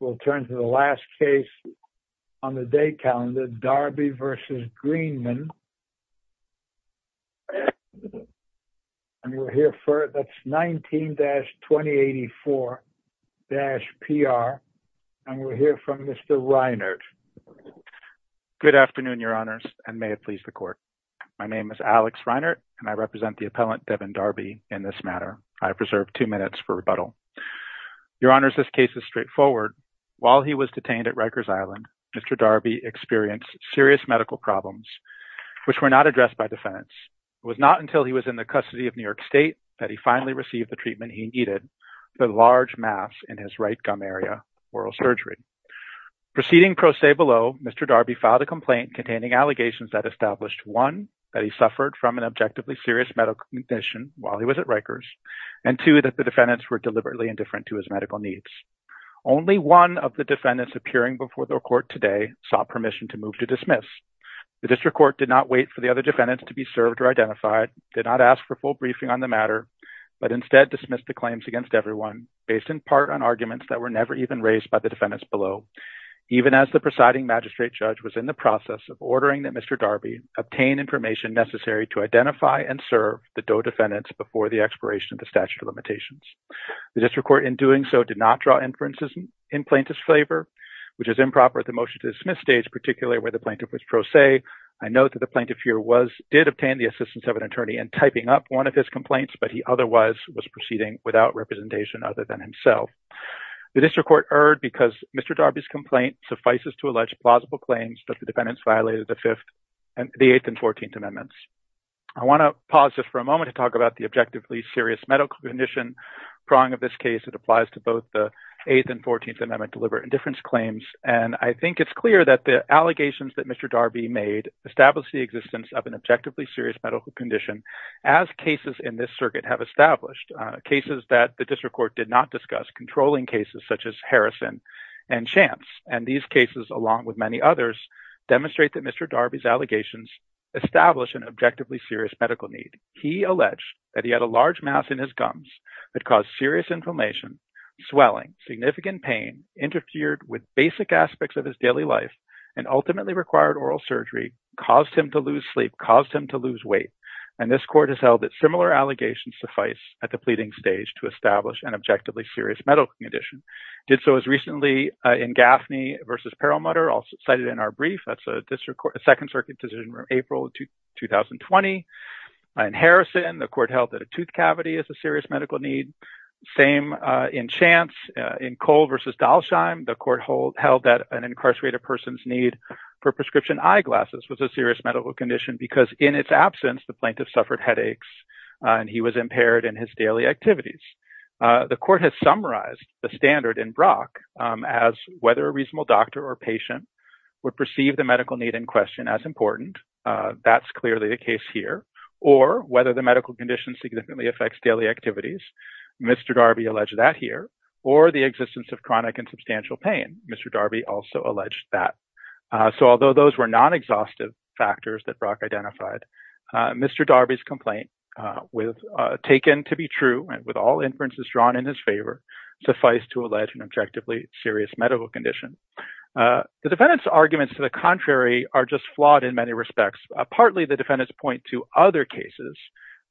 19-2084-P.R., and we'll hear from Mr. Reinhardt. Good afternoon, Your Honors, and may it please the Court. My name is Alex Reinhardt, and I represent the appellant, Devin Darby, in this matter. I preserve two minutes for rebuttal. Your Honors, this case is straightforward. While he was detained at Rikers Island, Mr. Darby experienced serious medical problems which were not addressed by defendants. It was not until he was in the custody of New York State that he finally received the treatment he needed for the large mass in his right gum area, oral surgery. Proceeding pro se below, Mr. Darby filed a complaint containing allegations that established, one, that he suffered from an objectively serious medical condition while he was at Only one of the defendants appearing before the Court today sought permission to move to dismiss. The District Court did not wait for the other defendants to be served or identified, did not ask for full briefing on the matter, but instead dismissed the claims against everyone, based in part on arguments that were never even raised by the defendants below, even as the presiding magistrate judge was in the process of ordering that Mr. Darby obtain information necessary to identify and serve the DOE defendants before the expiration of the statute of limitations. The District Court, in doing so, did not draw inferences in plaintiff's favor, which is improper at the motion-to-dismiss stage, particularly where the plaintiff was pro se. I note that the plaintiff here did obtain the assistance of an attorney in typing up one of his complaints, but he otherwise was proceeding without representation other than himself. The District Court erred because Mr. Darby's complaint suffices to allege plausible claims that the defendants violated the Eighth and Fourteenth Amendments. I want to pause just for a moment to talk about the objectively serious medical condition prong of this case. It applies to both the Eighth and Fourteenth Amendment deliberate indifference claims, and I think it's clear that the allegations that Mr. Darby made established the existence of an objectively serious medical condition, as cases in this circuit have established, cases that the District Court did not discuss, controlling cases such as Harrison and Chance, and these cases, along with many others, demonstrate that Mr. Darby's allegations establish an objectively serious medical need. He alleged that he had a large mass in his gums that caused serious inflammation, swelling, significant pain, interfered with basic aspects of his daily life, and ultimately required oral surgery, caused him to lose sleep, caused him to lose weight, and this Court has held that similar allegations suffice at the pleading stage to establish an objectively serious medical condition. It did so as recently in Gaffney v. Perlmutter, cited in our brief, that's a Second Circuit decision from April 2020. In Harrison, the Court held that a tooth cavity is a serious medical need. Same in Chance. In Cole v. Dalsheim, the Court held that an incarcerated person's need for prescription eyeglasses was a serious medical condition because in its absence, the plaintiff suffered headaches and he was impaired in his daily activities. The Court has summarized the standard in Brock as whether a reasonable doctor or patient would perceive the medical need in question as important, that's clearly the case here, or whether the medical condition significantly affects daily activities, Mr. Darby alleged that here, or the existence of chronic and substantial pain, Mr. Darby also alleged that. So although those were non-exhaustive factors that Brock identified, Mr. Darby's complaint, taken to be true and with all inferences drawn in his favor, suffice to allege an objectively serious medical condition. The defendant's arguments to the contrary are just flawed in many respects. Partly the defendants point to other cases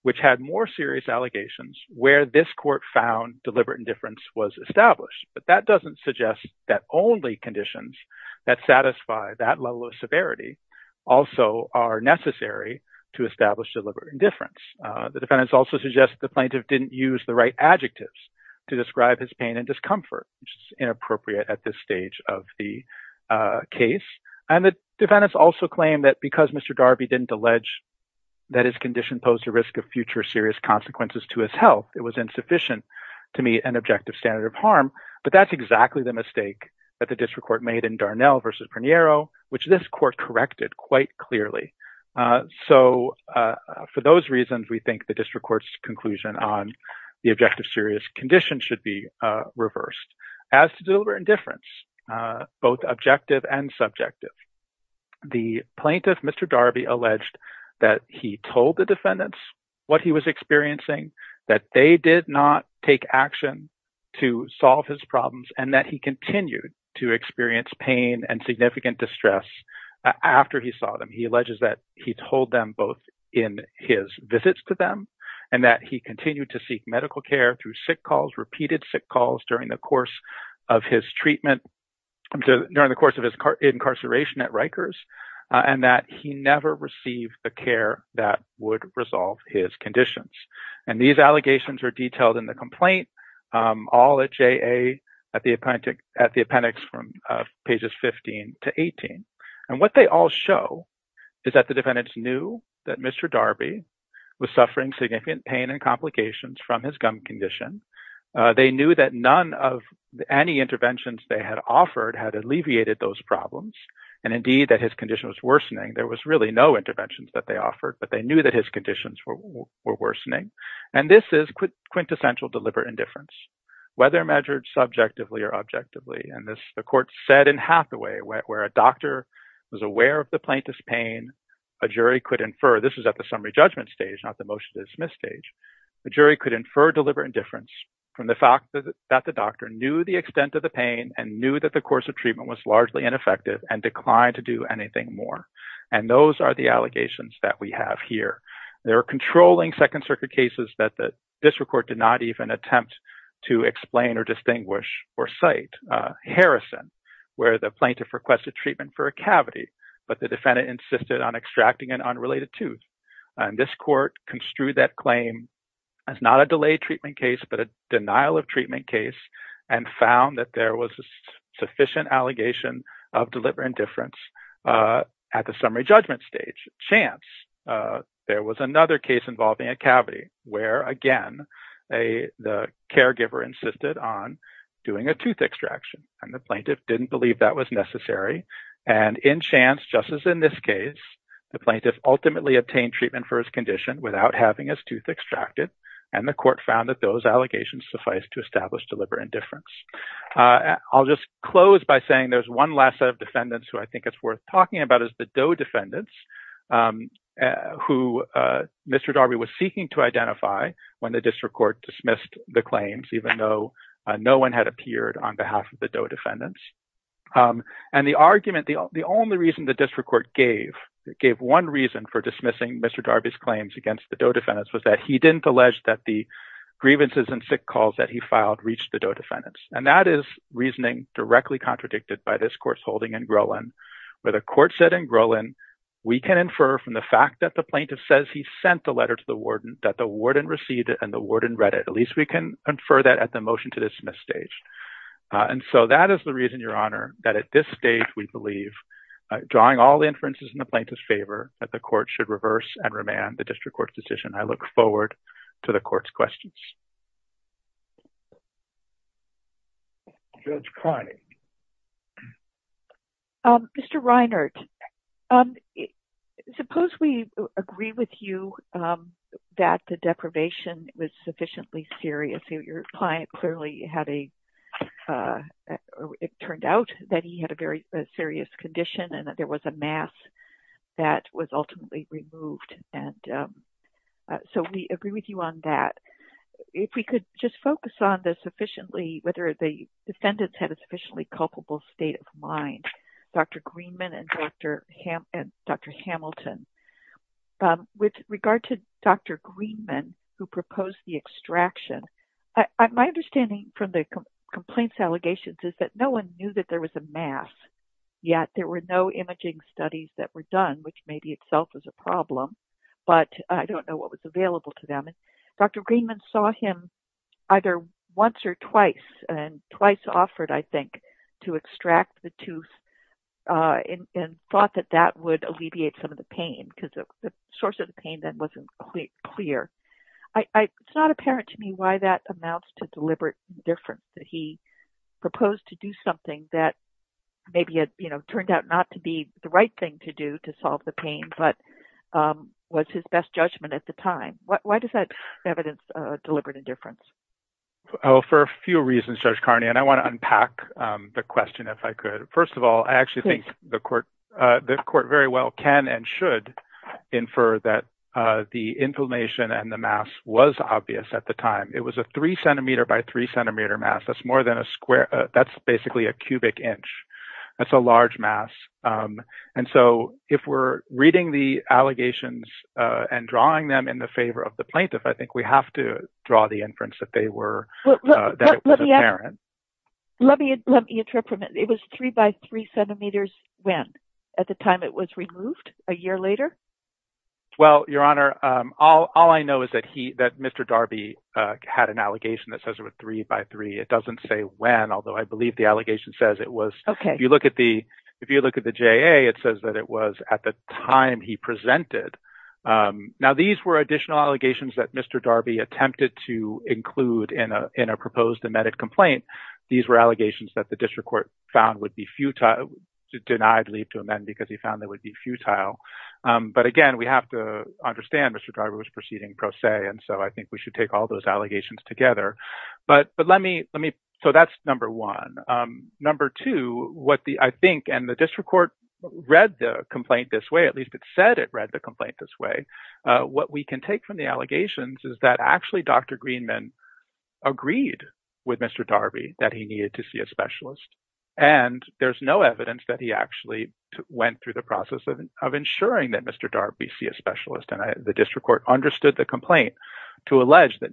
which had more serious allegations where this court found deliberate indifference was established, but that doesn't suggest that only conditions that satisfy that level of severity also are necessary to establish deliberate indifference. The defendants also suggest the plaintiff didn't use the right adjectives to describe his pain and discomfort, which is inappropriate at this stage of the case. And the defendants also claim that because Mr. Darby didn't allege that his condition posed a risk of future serious consequences to his health, it was insufficient to meet an objective standard of harm, but that's exactly the mistake that the district court made in Darnell v. Preniero, which this court corrected quite clearly. So for those reasons, we think the district court's conclusion on the objective serious condition should be reversed as to deliberate indifference, both objective and subjective. The plaintiff, Mr. Darby, alleged that he told the defendants what he was experiencing, that they did not take action to solve his problems, and that he continued to experience pain and significant distress after he saw them. He alleges that he told them both in his visits to them and that he continued to seek medical care through sick calls, repeated sick calls during the course of his treatment, during the course of his incarceration at Rikers, and that he never received the care that would resolve his conditions. And these allegations are detailed in the complaint, all at JA, at the appendix from pages 15 to 18. And what they all show is that the defendants knew that Mr. Darby was suffering significant pain and complications from his gum condition. They knew that none of any interventions they had offered had alleviated those problems, and indeed that his condition was worsening. There was really no interventions that they offered, but they knew that his conditions were worsening. And this is quintessential deliberate indifference, whether measured subjectively or objectively. And the court said in Hathaway, where a doctor was aware of the plaintiff's pain, a jury could infer—this is at the summary judgment stage, not the motion to dismiss stage—a jury could infer deliberate indifference from the fact that the doctor knew the extent of the pain and knew that the course of treatment was largely ineffective and declined to do anything more. And those are the allegations that we have here. There are controlling Second Circuit cases that the district court did not even attempt to explain or distinguish or cite. Harrison, where the plaintiff requested treatment for a cavity, but the defendant insisted on a related tooth. And this court construed that claim as not a delayed treatment case, but a denial of treatment case, and found that there was a sufficient allegation of deliberate indifference at the summary judgment stage. Chance, there was another case involving a cavity where, again, the caregiver insisted on doing a tooth extraction, and the plaintiff didn't believe that was necessary. And in Chance, just as in this case, the plaintiff ultimately obtained treatment for his condition without having his tooth extracted, and the court found that those allegations suffice to establish deliberate indifference. I'll just close by saying there's one last set of defendants who I think it's worth talking about is the Doe defendants, who Mr. Darby was seeking to identify when the district court dismissed the claims, even though no one had appeared on behalf of the Doe defendants. And the argument, the only reason the district court gave, it gave one reason for dismissing Mr. Darby's claims against the Doe defendants was that he didn't allege that the grievances and sick calls that he filed reached the Doe defendants. And that is reasoning directly contradicted by this court's holding in Grolin, where the court said in Grolin, we can infer from the fact that the plaintiff says he sent the letter to the warden that the warden received it and the warden read it, at least we can infer that at the motion to dismiss stage. And so that is the reason, Your Honor, that at this stage, we believe, drawing all the inferences in the plaintiff's favor, that the court should reverse and remand the district court's decision. I look forward to the court's questions. Judge Carney. Mr. Reinhart, suppose we agree with you that the deprivation was sufficiently serious. Your client clearly had a, it turned out that he had a very serious condition and that there was a mass that was ultimately removed. And so we agree with you on that. If we could just focus on the sufficiently, whether the defendants had a sufficiently culpable state of mind, Dr. Greenman and Dr. Hamilton. With regard to Dr. Greenman, who proposed the extraction, my understanding from the complaints allegations is that no one knew that there was a mass, yet there were no imaging studies that were done, which may be itself as a problem. But I don't know what was available to them. And Dr. Greenman saw him either once or twice and twice offered, I think, to extract the pain because the source of the pain then wasn't clear. It's not apparent to me why that amounts to deliberate indifference, that he proposed to do something that maybe had turned out not to be the right thing to do to solve the pain, but was his best judgment at the time. Why does that evidence deliberate indifference? Oh, for a few reasons, Judge Carney. And I want to unpack the question if I could. First of all, I actually think the court very well can and should infer that the inflammation and the mass was obvious at the time. It was a three centimeter by three centimeter mass. That's more than a square. That's basically a cubic inch. That's a large mass. And so if we're reading the allegations and drawing them in the favor of the plaintiff, I think we have to draw the inference that they were, that it was apparent. Let me interpret it. It was three by three centimeters when? At the time it was removed? A year later? Well, Your Honor, all I know is that Mr. Darby had an allegation that says it was three by three. It doesn't say when, although I believe the allegation says it was. If you look at the JA, it says that it was at the time he presented. Now, these were additional allegations that Mr. Darby attempted to include in a proposed amended complaint. These were allegations that the district court found would be futile, denied leave to amend because he found that would be futile. But again, we have to understand Mr. Darby was proceeding pro se, and so I think we should take all those allegations together. But let me, so that's number one. Number two, what I think, and the district court read the complaint this way, at least it said it read the complaint this way. What we can take from the allegations is that actually Dr. Greenman agreed with Mr. Darby that he needed to see a specialist. And there's no evidence that he actually went through the process of ensuring that Mr. Darby see a specialist. And the district court understood the complaint to allege that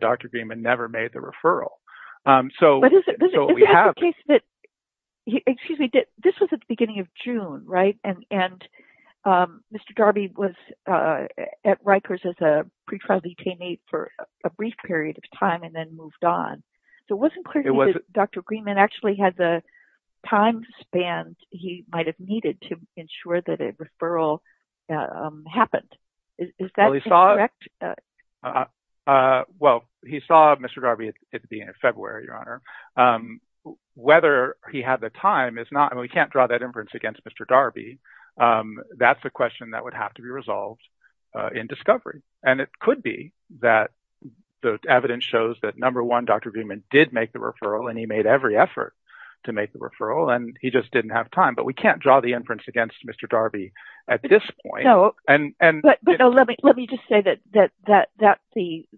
Dr. Greenman never made the referral. But is it the case that, excuse me, this was at the beginning of June, right? And Mr. Darby was at Rikers as a pretrial detainee for a brief period of time and then moved on. So it wasn't clear to me that Dr. Greenman actually had the time spans he might have needed to ensure that a referral happened. Is that correct? Well, he saw Mr. Darby at the end of February, Your Honor. Whether he had the time is not, I mean, we can't draw that inference against Mr. Darby. That's a question that would have to be resolved in discovery. And it could be that the evidence shows that number one, Dr. Greenman did make the referral and he made every effort to make the referral and he just didn't have time. But we can't draw the inference against Mr. Darby at this point. No, but let me just say that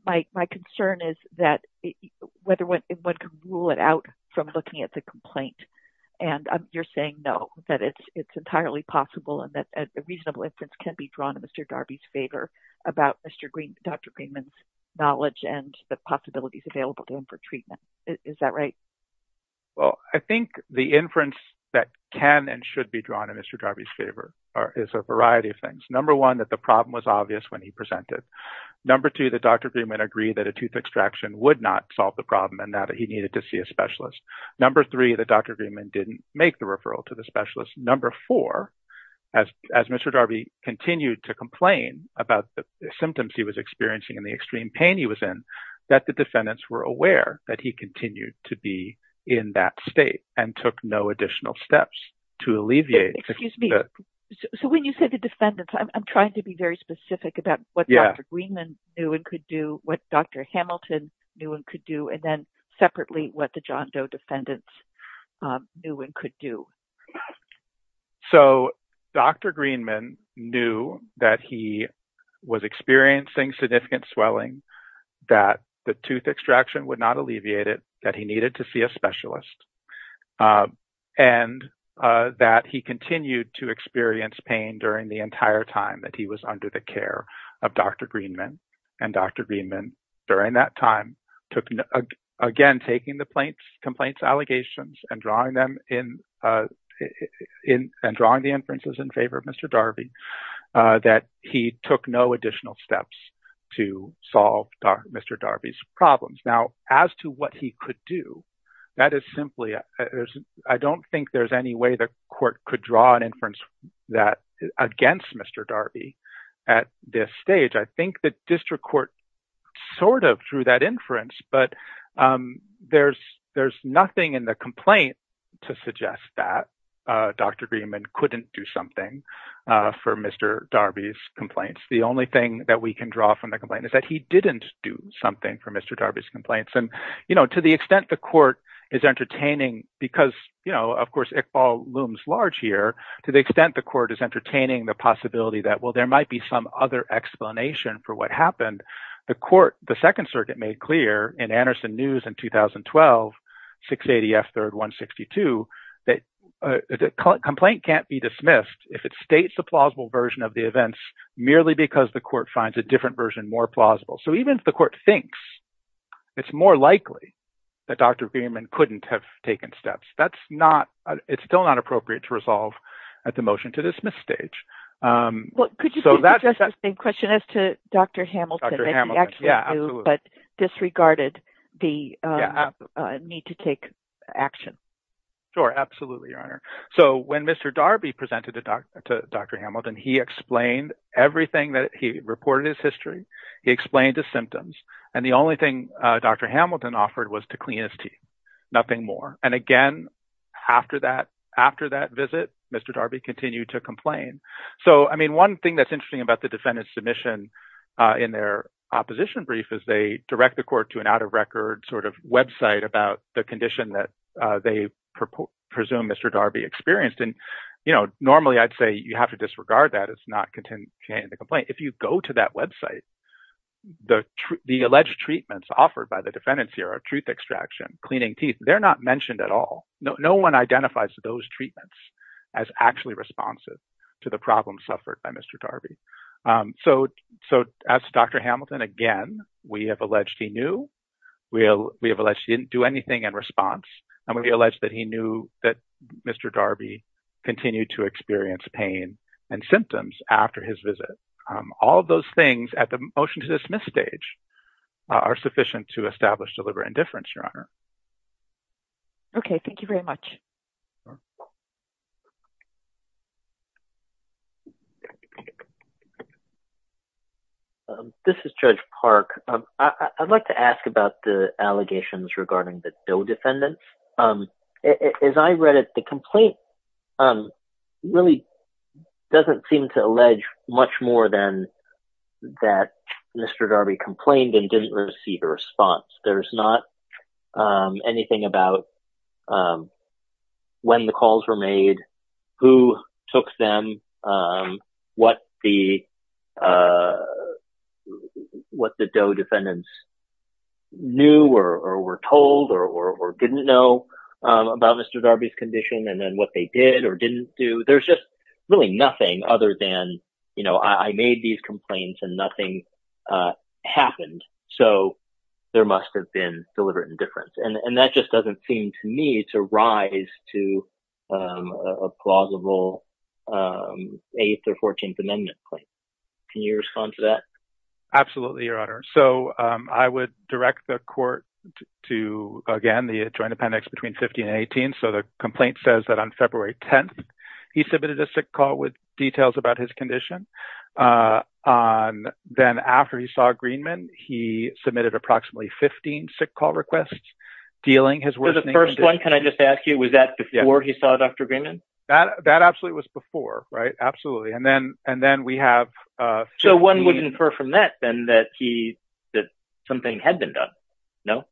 my concern is whether one can rule it out from looking at the complaint. And you're saying no, that it's entirely possible and that a reasonable inference can be drawn in Mr. Darby's favor about Dr. Greenman's knowledge and the possibilities available to him for treatment. Is that right? Well, I think the inference that can and should be drawn in Mr. Darby's favor is a variety of things. Number one, that the problem was obvious when he presented. Number two, that Dr. Greenman agreed that a tooth extraction would not solve the problem and that he needed to see a specialist. Number three, that Dr. Greenman didn't make the referral to the specialist. Number four, as Mr. Darby continued to complain about the symptoms he was experiencing and the extreme pain he was in, that the defendants were aware that he continued to be in that state and took no additional steps to alleviate. Excuse me. So when you say the defendants, I'm trying to be very specific about what Dr. Greenman knew and could do, what Dr. Hamilton knew and could do. And then separately, what the John Doe defendants knew and could do. So Dr. Greenman knew that he was experiencing significant swelling, that the tooth extraction would not alleviate it, that he needed to see a specialist, and that he continued to experience pain during the entire time that he was under the care of Dr. Greenman. And Dr. Greenman, during that time, took, again, taking the complaint's allegations and drawing them in, and drawing the inferences in favor of Mr. Darby, that he took no additional steps to solve Mr. Darby's problems. Now, as to what he could do, that is simply, I don't think there's any way the court could draw an inference against Mr. Darby at this stage. I think the district court sort of drew that inference, but there's nothing in the complaint to suggest that Dr. Greenman couldn't do something for Mr. Darby's complaints. The only thing that we can draw from the complaint is that he didn't do something for Mr. Darby's complaints. And to the extent the court is entertaining, because, of course, Iqbal looms large here, to the extent the court is entertaining the possibility that, well, there might be some explanation for what happened, the court, the Second Circuit made clear in Anderson News in 2012, 680 F. 3rd 162, that the complaint can't be dismissed if it states a plausible version of the events merely because the court finds a different version more plausible. So even if the court thinks it's more likely that Dr. Greenman couldn't have taken steps, that's not, it's still not appropriate to resolve at the motion-to-dismiss stage. Well, could you address the same question as to Dr. Hamilton, that he actually knew, but disregarded the need to take action? Sure, absolutely, Your Honor. So when Mr. Darby presented to Dr. Hamilton, he explained everything that, he reported his history, he explained his symptoms, and the only thing Dr. Hamilton offered was to clean his teeth, nothing more. And again, after that, after that visit, Mr. Darby continued to complain. So, I mean, one thing that's interesting about the defendant's submission in their opposition brief is they direct the court to an out-of-record sort of website about the condition that they presume Mr. Darby experienced. And, you know, normally I'd say you have to disregard that, it's not contained in the complaint. If you go to that website, the alleged treatments offered by the defendants here are truth extraction, cleaning teeth, they're not mentioned at all. No one identifies those treatments as actually responsive to the problems suffered by Mr. Darby. So, as Dr. Hamilton, again, we have alleged he knew, we have alleged he didn't do anything in response, and we've alleged that he knew that Mr. Darby continued to experience pain and symptoms after his visit. All of those things at the motion-to-dismiss stage are sufficient to establish deliberate indifference, Your Honor. Okay, thank you very much. This is Judge Park. I'd like to ask about the allegations regarding the DOE defendants. As I read it, the complaint really doesn't seem to allege much more than that Mr. Darby complained and didn't receive a response. There's not anything about when the calls were made, who took them, what the DOE defendants knew or were told or didn't know about Mr. Darby's condition and then what they did or didn't do. There's just really nothing other than, you know, I made these complaints and nothing happened. So there must have been deliberate indifference. And that just doesn't seem to me to rise to a plausible 8th or 14th Amendment claim. Can you respond to that? Absolutely, Your Honor. So I would direct the court to, again, the Joint Appendix between 15 and 18. So the complaint says that on February 10th, he submitted a sick call with details about his condition. Then after he saw Greenman, he submitted approximately 15 sick call requests dealing his work. So the first one, can I just ask you, was that before he saw Dr. Greenman? That absolutely was before, right? Absolutely. And then we have 15. So one would infer from that then that something had been done, no?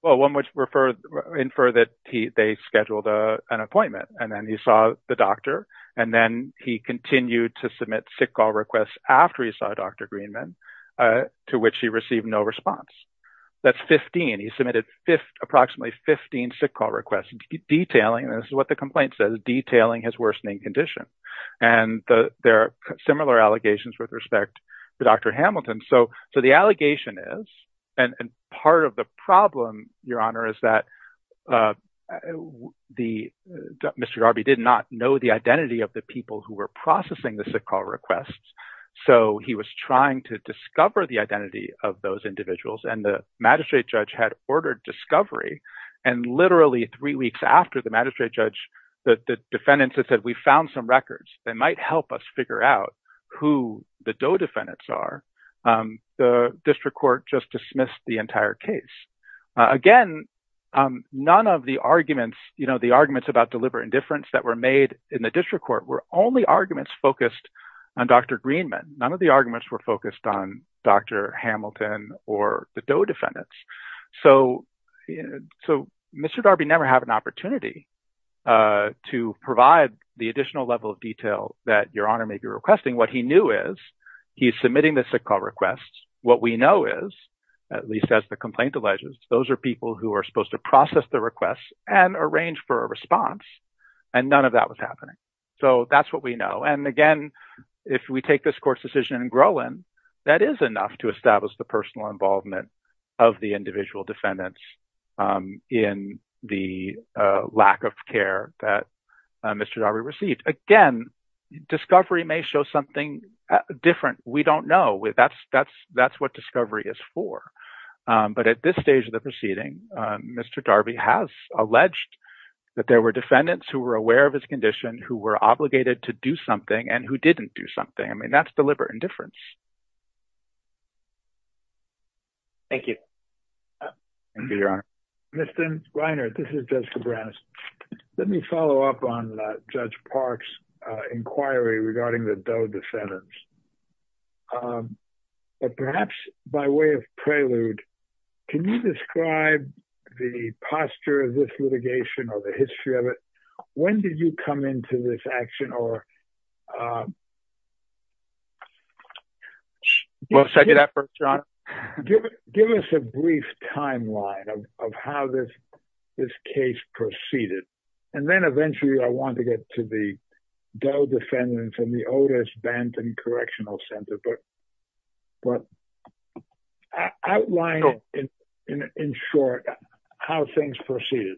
Well, one would infer that they scheduled an appointment and then he saw the doctor and then he continued to submit sick call requests after he saw Dr. Greenman, to which he received no response. That's 15. He submitted approximately 15 sick call requests detailing, this is what the complaint says, detailing his worsening condition. And there are similar allegations with respect to Dr. Hamilton. So the allegation is, and part of the problem, Your Honor, is that Mr. Darby did not know the identity of the people who were processing the sick call requests. So he was trying to discover the identity of those individuals. And the magistrate judge had ordered discovery. And literally three weeks after the magistrate judge, the defendants had said, we found some records that might help us figure out who the Doe defendants are. The district court just dismissed the entire case. Again, none of the arguments, you know, the arguments about deliberate indifference that were made in the district court were only arguments focused on Dr. Greenman. None of the arguments were focused on Dr. Hamilton or the Doe defendants. So Mr. Darby never had an opportunity to provide the additional level of detail that Your Honor may be requesting. What he knew is he's submitting the sick call requests. What we know is, at least as the complaint alleges, those are people who are supposed to process the requests and arrange for a response. And none of that was happening. So that's what we know. And again, if we take this court's decision in Groen, that is enough to establish the personal involvement of the individual defendants in the lack of care that Mr. Darby received. Again, discovery may show something different. We don't know. That's what discovery is for. But at this stage of the proceeding, Mr. Darby has alleged that there were defendants who were aware of his condition, who were obligated to do something, and who didn't do something. I mean, that's deliberate indifference. Thank you. Thank you, Your Honor. Mr. Reiner, this is Judge Cabranes. Let me follow up on Judge Park's inquiry regarding the Doe defendants. But perhaps by way of prelude, can you describe the posture of this litigation or the history of it? When did you come into this action? Give us a brief timeline of how this case proceeded. And then eventually, I want to get to the Doe defendants and the Otis Banton Correctional District. Outline, in short, how things proceeded.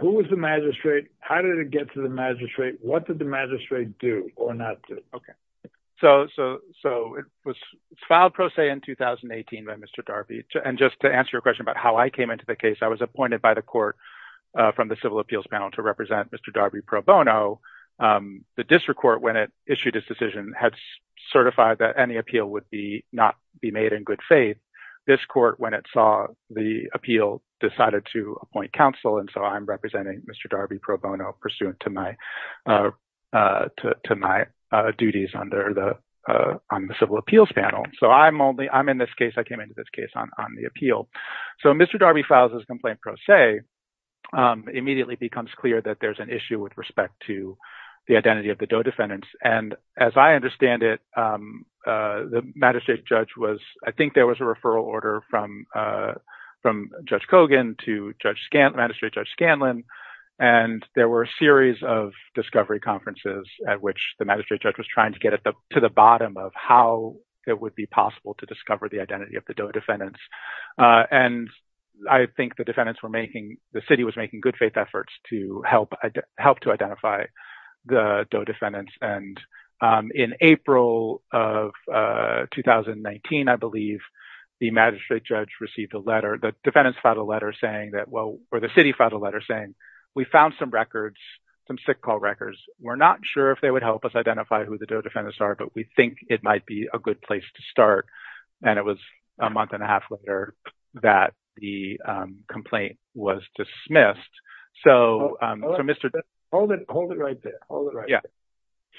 Who was the magistrate? How did it get to the magistrate? What did the magistrate do or not do? Okay, so it was filed pro se in 2018 by Mr. Darby. And just to answer your question about how I came into the case, I was appointed by the court from the Civil Appeals Panel to represent Mr. Darby pro bono. The district court, when it issued its decision, had certified that any appeal would not be made in good faith. This court, when it saw the appeal, decided to appoint counsel. And so I'm representing Mr. Darby pro bono pursuant to my duties on the Civil Appeals Panel. So I'm in this case. I came into this case on the appeal. So Mr. Darby files his complaint pro se. It immediately becomes clear that there's an issue with respect to the identity of the DOE defendants. And as I understand it, the magistrate judge was—I think there was a referral order from Judge Kogan to Magistrate Judge Scanlon. And there were a series of discovery conferences at which the magistrate judge was trying to get to the bottom of how it would be possible to discover the identity of the DOE defendants. And I think the defendants were making—the city was making good faith efforts to help to identify the DOE defendants. And in April of 2019, I believe, the magistrate judge received a letter—the defendants filed a letter saying that—well, or the city filed a letter saying, we found some records, some sick call records. We're not sure if they would help us identify who the DOE defendants are, but we think it might be a good place to start. And it was a month and a half later that the complaint was dismissed. So, Mr.— Hold it. Hold it right there. Hold it right there. Yeah.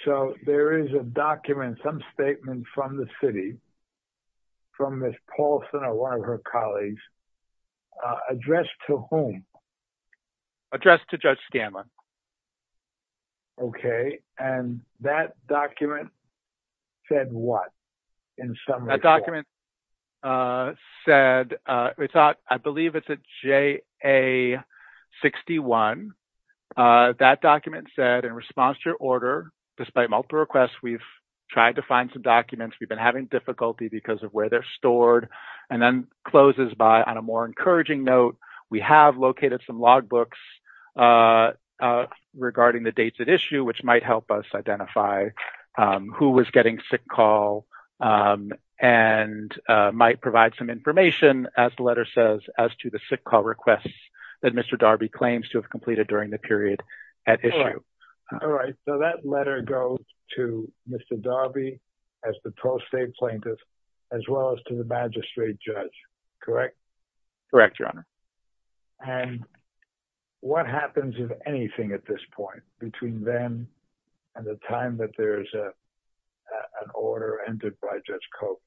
So, there is a document, some statement from the city, from Ms. Paulson or one of her colleagues, addressed to whom? Addressed to Judge Scanlon. Okay. And that document said what, in summary? That document said—I believe it's a JA-61. That document said, in response to your order, despite multiple requests, we've tried to find some documents. We've been having difficulty because of where they're stored. And then closes by, on a more encouraging note, we have located some logbooks regarding the dates at issue, which might help us identify who was getting sick call and might provide some information, as the letter says, as to the sick call requests that Mr. Darby claims to have completed during the period at issue. All right. So, that letter goes to Mr. Darby as the pro-state plaintiff, as well as to the magistrate judge, correct? Correct, Your Honor. And what happens, if anything, at this point, between then and the time that there's an order entered by Judge Cope?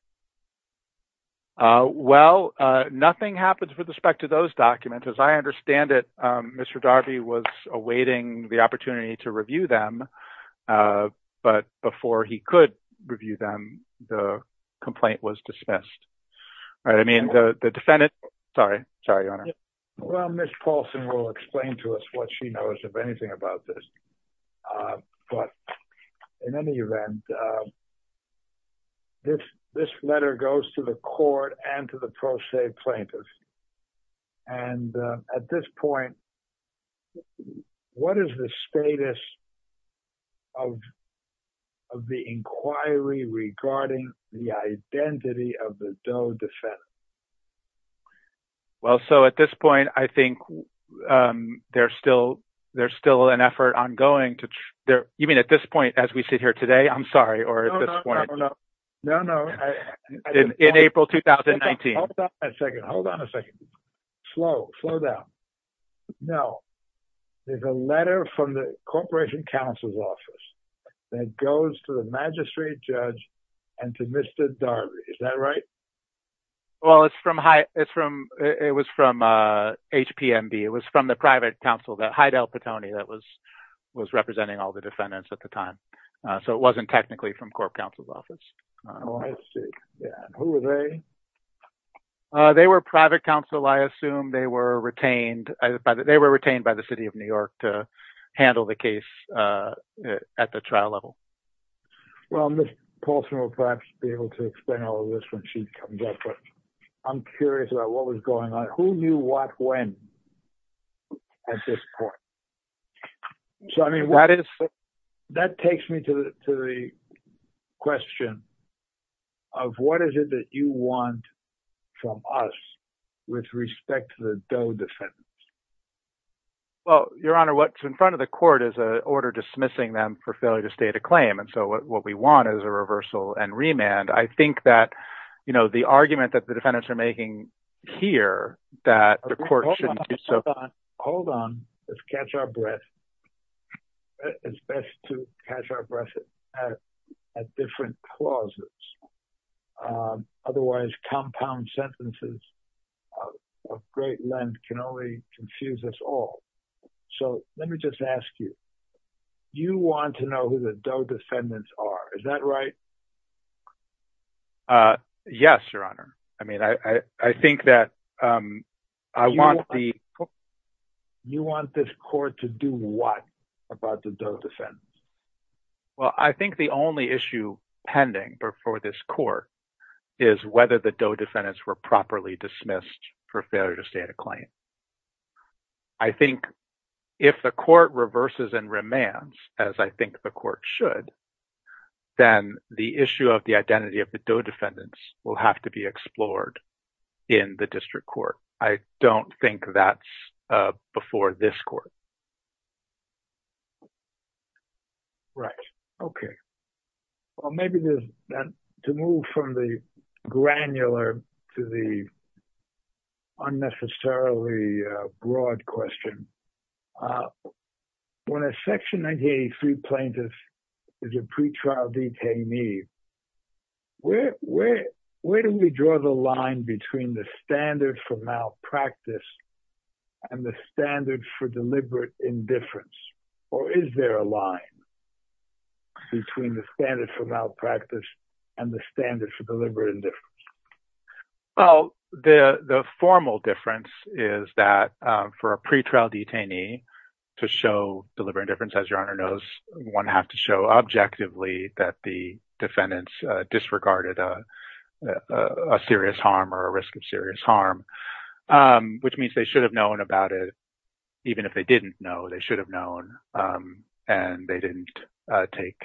Well, nothing happens with respect to those documents. As I understand it, Mr. Darby was awaiting the opportunity to review them. But before he could review them, the complaint was dismissed. All right. I mean, the defendant... Sorry. Sorry, Your Honor. Well, Ms. Paulson will explain to us what she knows, if anything, about this. But, in any event, this letter goes to the court and to the pro-state plaintiff. And at this point, what is the status of the inquiry regarding the identity of the Doe defendant? Well, so, at this point, I think there's still an effort ongoing to... You mean, at this point, as we sit here today? I'm sorry, or at this point? No, no. In April 2019. Hold on a second. Hold on a second. Slow. Slow down. Now, there's a letter from the Corporation Counsel's Office that goes to the magistrate judge and to Mr. Darby. Is that right? Well, it's from... It was from HPMB. It was from the private counsel, Hydel Patoni, that was representing all the defendants at the time. So, it wasn't technically from Corp Counsel's Office. Oh, I see. Yeah. Who were they? They were private counsel, I assume. They were retained by the City of New York to handle the case at the trial level. Well, Ms. Paulson will perhaps be able to explain all of this when she comes up, but I'm curious about what was going on. Who knew what when at this point? So, I mean, that takes me to the question of what is it that you want from us with respect to the Doe defendants? Well, Your Honor, what's in front of the court is an order dismissing them for failure to claim. And so, what we want is a reversal and remand. I think that the argument that the defendants are making here that the court shouldn't do so... Hold on. Let's catch our breath. It's best to catch our breath at different clauses. Otherwise, compound sentences of great length can only confuse us all. So, let me just ask you, you want to know who the Doe defendants are, is that right? Yes, Your Honor. I mean, I think that I want the... You want this court to do what about the Doe defendants? Well, I think the only issue pending before this court is whether the Doe defendants were properly dismissed for failure to state a claim. I think if the court reverses and remands, as I think the court should, then the issue of the identity of the Doe defendants will have to be explored in the district court. I don't think that's before this court. Right. Okay. Well, maybe to move from the granular to the unnecessarily broad question, when a Section 1983 plaintiff is a pretrial detainee, where do we draw the line between the standard for malpractice and the standard for deliberate indifference? Or is there a line between the standard for malpractice and the standard for deliberate indifference? Well, the formal difference is that for a pretrial detainee to show deliberate indifference, as Your Honor knows, one has to show objectively that the defendants disregarded a serious harm or a risk of serious harm, which means they should have known about it. Even if they didn't know, they should have known and they didn't take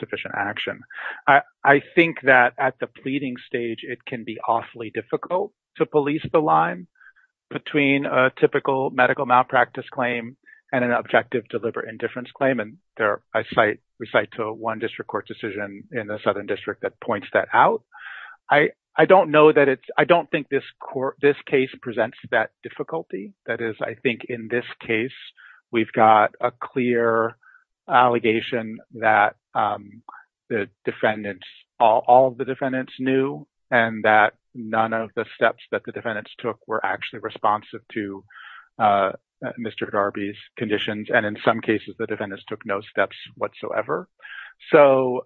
sufficient action. I think that at the pleading stage, it can be awfully difficult to police the line between a typical medical malpractice claim and an objective deliberate indifference claim. And I recite to a one district court decision in the Southern District that points that out. I don't think this case presents that difficulty. That is, I think in this case, we've got a clear allegation that all of the defendants knew and that none of the steps that the defendants took were actually responsive to Mr. Darby's conditions. And in some cases, the defendants took no steps whatsoever. So,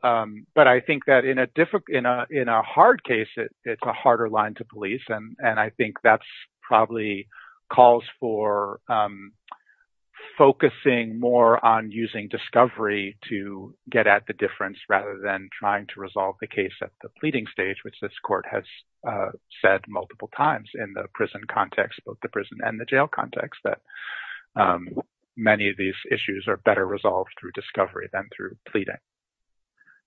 but I think that in a hard case, it's a harder line to police. And I think that's probably calls for focusing more on using discovery to get at the difference rather than trying to resolve the case at the pleading stage, which this court has said multiple times in the prison context, both the prison and the jail context, that many of these issues are better resolved through discovery than through pleading.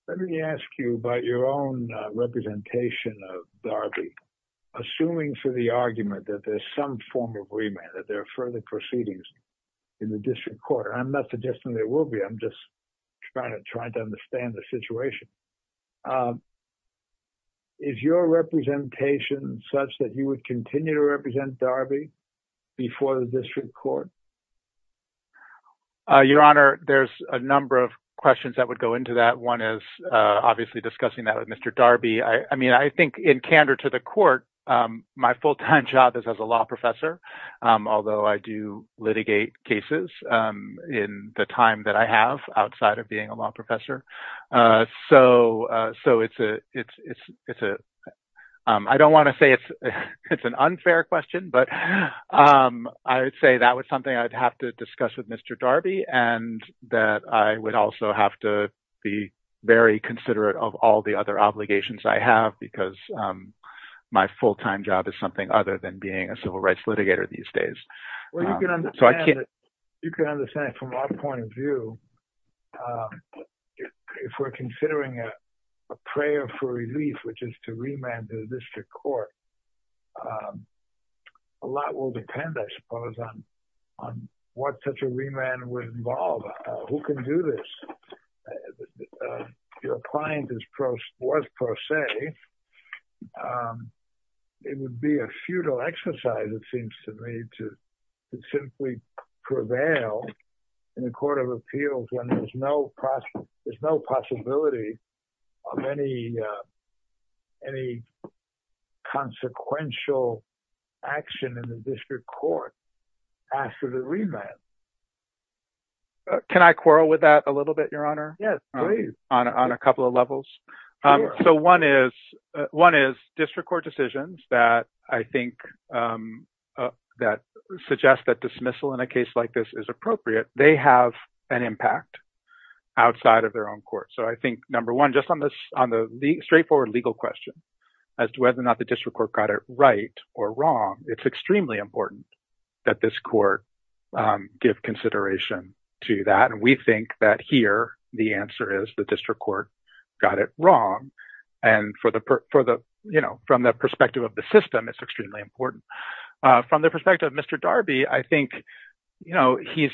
Let me ask you about your own representation of Darby, assuming for the argument that there's some form of remand, that there are further proceedings in the district court. I'm not suggesting there will be. I'm just trying to understand the situation. Is your representation such that you would continue to represent Darby before the district court? Your Honor, there's a number of questions that would go into that. One is obviously discussing that with Mr. Darby. I mean, I think in candor to the court, my full-time job is as a law professor, although I do litigate cases in the time that I have outside of being a law professor. So, I don't want to say it's an unfair question, but I would say that was something I'd have to discuss with Mr. Darby and that I would also have to be very considerate of all the other obligations I have because my full-time job is something other than being a civil rights litigator these days. You can understand from our point of view, if we're considering a prayer for relief, which is to remand to the district court, a lot will depend, I suppose, on what such a remand would involve. Who can do this? Your client was pro se. It would be a futile exercise, it seems to me, to simply prevail in a court of appeals when there's no possibility of any consequential action in the district court after the remand. Can I quarrel with that a little bit, Your Honor? Yes, please. On a couple of levels. So, one is district court decisions that suggest that dismissal in a case like this is appropriate. They have an impact outside of their own court. So, I think, number one, just on the straightforward legal question as to whether or not the district court got it right or wrong, it's extremely important that this court give consideration to that. And we think that here, the answer is the district court got it wrong. And from the perspective of the system, it's extremely important. From the perspective of Mr. Darby, I think, you know, he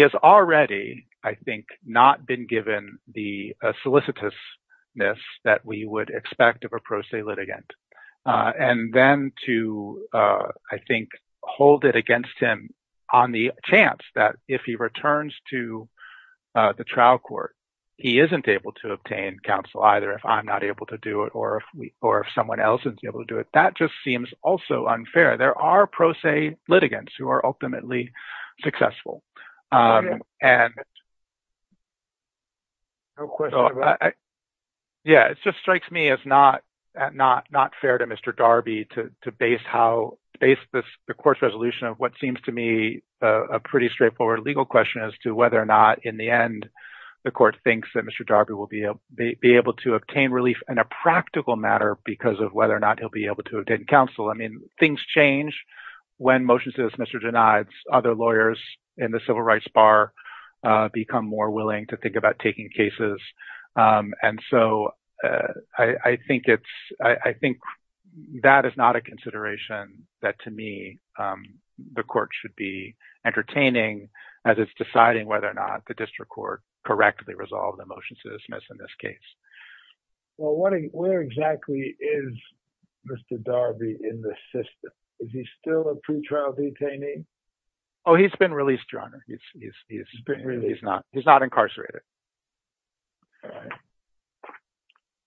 has already, I think, not been given the solicitousness that we would expect of a pro se litigant. And then to, I think, hold it against him on the chance that if he returns to the trial court, he isn't able to obtain counsel either if I'm not able to do it or if someone else isn't able to do it. That just seems also unfair. There are pro se litigants who are ultimately successful. And yeah, it just strikes me as not fair to Mr. Darby to base the court's resolution of what seems to me a pretty straightforward legal question as to whether or not, in the end, the court thinks that Mr. Darby will be able to obtain relief in a practical matter because of whether or not he'll be able to obtain counsel. I mean, things change when motions to dismiss are denied. Other lawyers in the civil rights bar become more willing to think about taking cases. And so I think that is not a consideration that, to me, the court should be entertaining as it's deciding whether or not the district court correctly resolved the motion to dismiss in this case. Well, where exactly is Mr. Darby in the system? Is he still a pretrial detainee? Oh, he's been released, John. He's not incarcerated.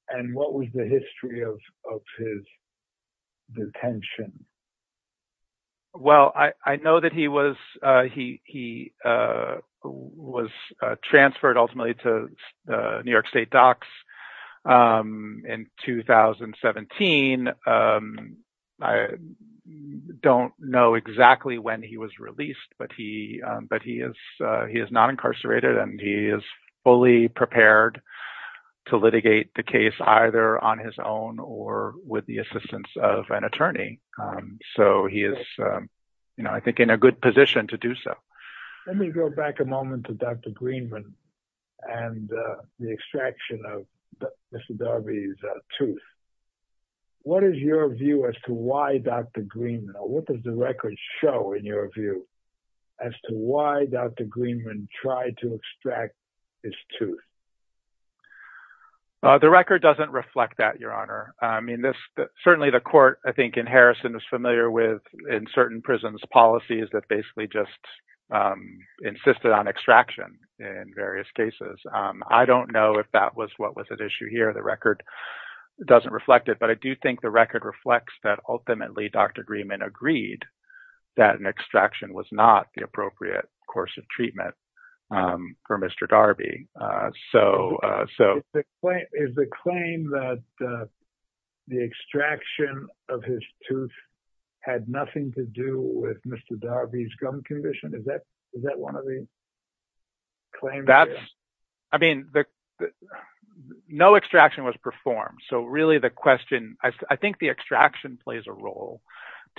And what was the history of his detention? Well, I know that he was transferred, ultimately, to New York State Docs in 2017. I don't know exactly when he was released, but he is not incarcerated, and he is fully prepared to litigate the case either on his own or with the assistance of an attorney. So he is, I think, in a good position to do so. Let me go back a moment to Dr. Greenman and the extraction of Mr. Darby's tooth. What is your view as to why Dr. Greenman, or what does the record show in your view as to why Dr. Greenman tried to extract his tooth? The record doesn't reflect that, Your Honor. I mean, certainly the court, I think, in Harrison is familiar with, in certain prisons, policies that basically just insisted on extraction in various cases. I don't know if that was what was at issue here. The record doesn't reflect it. But I do think the record reflects that ultimately Dr. Greenman agreed that an extraction was not the appropriate course of treatment for Mr. Darby. Is the claim that the extraction of his tooth had nothing to do with Mr. Darby's gum condition, is that one of the claims? That's, I mean, no extraction was performed. So really the question, I think the extraction plays a role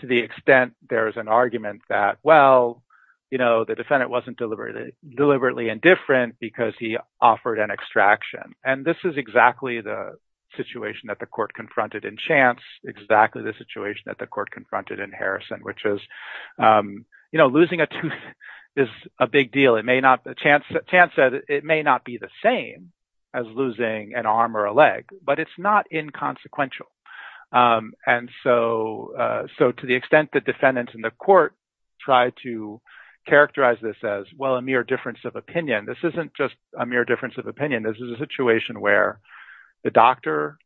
to the extent there is an argument that, well, you know, the defendant wasn't deliberately indifferent because he offered an extraction. And this is exactly the situation that the court confronted in Chance, exactly the situation that the court confronted in Harrison, which is, you know, losing a tooth is a big deal. Chance said it may not be the same as losing an arm or a leg, but it's not inconsequential. And so to the extent that defendants in the court tried to characterize this as, well, a mere difference of opinion, this isn't just a mere difference of opinion. This is a situation where the doctor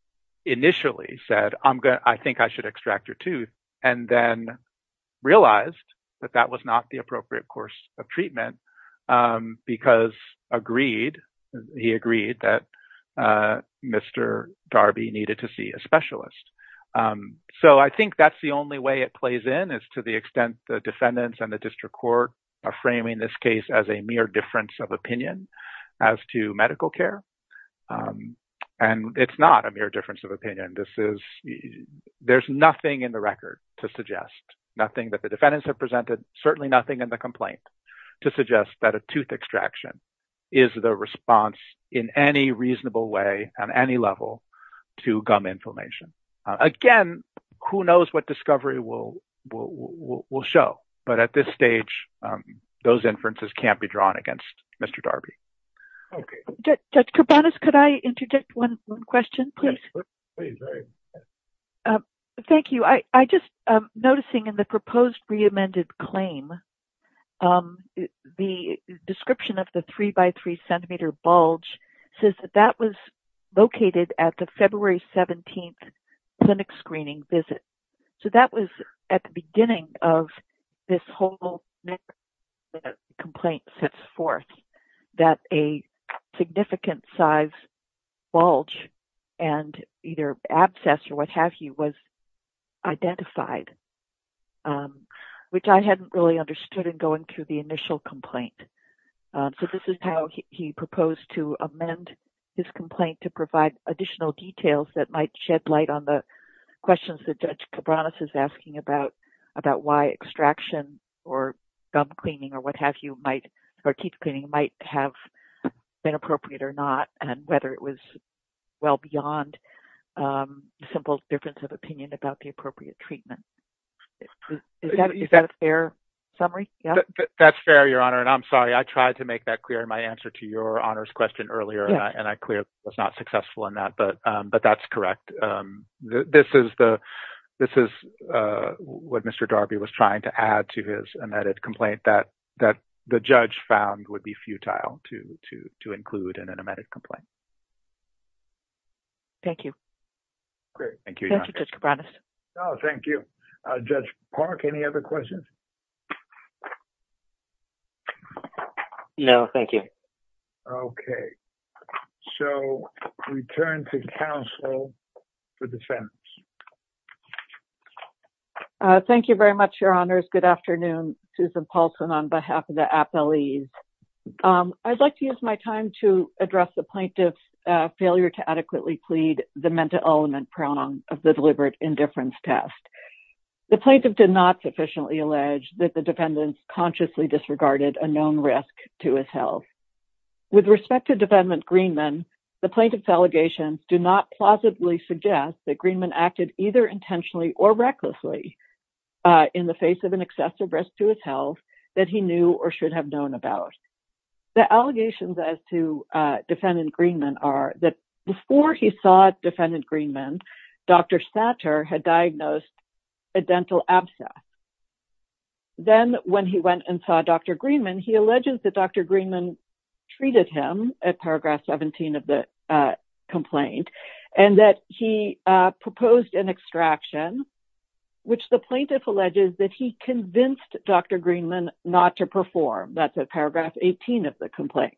initially said, I think I should extract your tooth and then realized that that was not the appropriate course of treatment because agreed, he agreed that Mr. Darby needed to see a specialist. So I think that's the only way it plays in is to the extent the defendants and the district court are framing this case as a mere difference of opinion as to medical care. And it's not a mere difference of opinion. This is, there's nothing in the record to suggest, nothing that the defendants have presented, certainly nothing in the complaint to suggest that a tooth extraction is the in any reasonable way on any level to gum inflammation. Again, who knows what discovery will show, but at this stage, those inferences can't be drawn against Mr. Darby. Judge Kourbanas, could I interject one question, please? Thank you. I just noticing in the proposed re-amended claim, um, the description of the three by three centimeter bulge says that that was located at the February 17th clinic screening visit. So that was at the beginning of this whole complaint sets forth that a significant size bulge and either abscess or what have you was identified. Um, which I hadn't really understood in going through the initial complaint. So this is how he proposed to amend his complaint to provide additional details that might shed light on the questions that Judge Kourbanas is asking about, about why extraction or gum cleaning or what have you might, or teeth cleaning might have been appropriate or not. And whether it was well beyond, um, simple difference of opinion about the appropriate treatment. Is that a fair summary? That's fair, Your Honor. And I'm sorry, I tried to make that clear in my answer to your Honor's question earlier and I clearly was not successful in that. But, um, but that's correct. Um, this is the, this is, uh, what Mr. Darby was trying to add to his amended complaint that, that the judge found would be futile to, to, to include in an amended complaint. Thank you. Great. Thank you, Your Honor. Judge Kourbanas. Oh, thank you. Judge Park, any other questions? No, thank you. Okay. So we turn to counsel for defense. Thank you very much, Your Honors. Good afternoon. Susan Paulson on behalf of the appellees. Um, I'd like to use my time to address the plaintiff's failure to adequately plead the element prong of the deliberate indifference test. The plaintiff did not sufficiently allege that the defendants consciously disregarded a known risk to his health. With respect to defendant Greenman, the plaintiff's allegations do not plausibly suggest that Greenman acted either intentionally or recklessly, uh, in the face of an excessive risk to his health that he knew or should have known about. The allegations as to defendant Greenman are that before he saw defendant Greenman, Dr. Satcher had diagnosed a dental abscess. Then when he went and saw Dr. Greenman, he alleges that Dr. Greenman treated him at paragraph 17 of the complaint and that he proposed an extraction, which the plaintiff alleges that he convinced Dr. Greenman not to perform. That's at paragraph 18 of the complaint.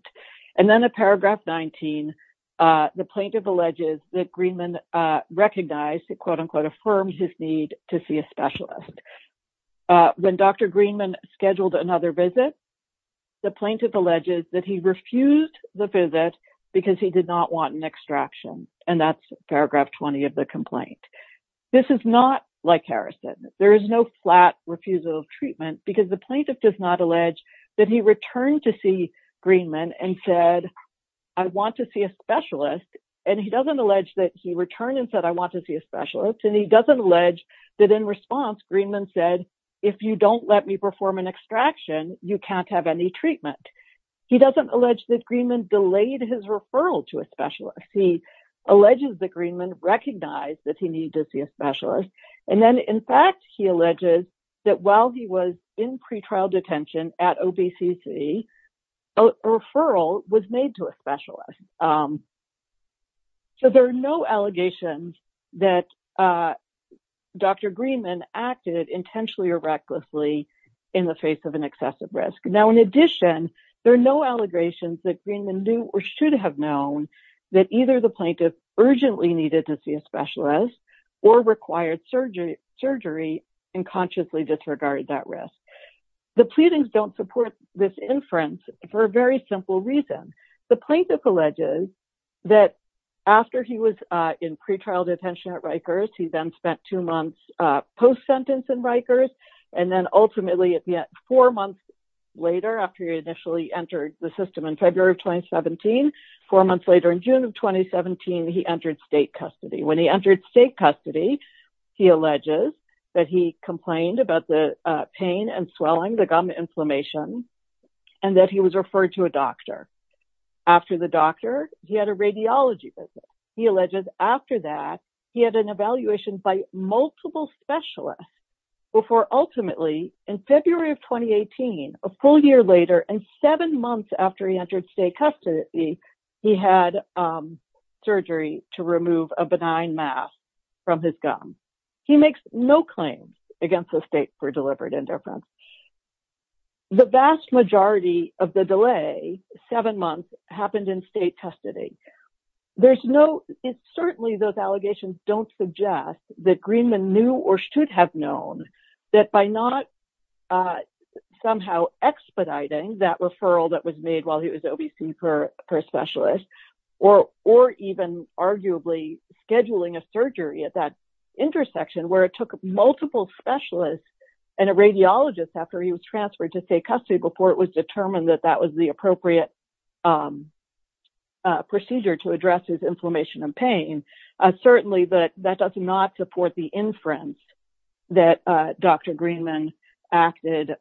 And then at paragraph 19, uh, the plaintiff alleges that Greenman, uh, recognized, quote unquote, affirmed his need to see a specialist. Uh, when Dr. Greenman scheduled another visit, the plaintiff alleges that he refused the visit because he did not want an extraction. And that's paragraph 20 of the complaint. This is not like Harrison. There is no flat refusal of treatment because the plaintiff does not allege that he returned to see Greenman and said, I want to see a specialist. And he doesn't allege that he returned and said, I want to see a specialist. And he doesn't allege that in response, Greenman said, if you don't let me perform an extraction, you can't have any treatment. He doesn't allege that Greenman delayed his referral to a specialist. He alleges that Greenman recognized that he needed to see a specialist. And then in fact, he alleges that while he was in pretrial detention at OBCC, a referral was made to a specialist. So there are no allegations that, uh, Dr. Greenman acted intentionally or recklessly in the face of an excessive risk. Now, in addition, there are no allegations that Greenman knew or should have known that either the plaintiff urgently needed to see a specialist or required surgery and consciously disregarded that risk. The pleadings don't support this inference for a very simple reason. The plaintiff alleges that after he was in pretrial detention at Rikers, he then spent two months post-sentence in Rikers. And then ultimately at the end, four months later, after he initially entered the system in February of 2017, four months later in June of 2017, he entered state custody. When he entered state custody, he alleges that he complained about the pain and swelling, the gum inflammation, and that he was referred to a doctor. After the doctor, he had a radiology visit. He alleges after that, he had an evaluation by multiple specialists before ultimately in February of 2018, a full year later and seven months after he entered state custody, he had surgery to remove a benign mass from his gum. He makes no claims against the state for deliberate interference. The vast majority of the delay, seven months, happened in state custody. There's no, it's certainly those allegations don't suggest that Greenman knew or should have known that by not somehow expediting that referral that was made while he was OVC per specialist, or even arguably scheduling a surgery at that intersection where it took multiple specialists and a radiologist after he was transferred to state custody before it was determined that that was the appropriate procedure to address his inflammation and pain. Certainly, but that does not support the inference that Dr. Greenman acted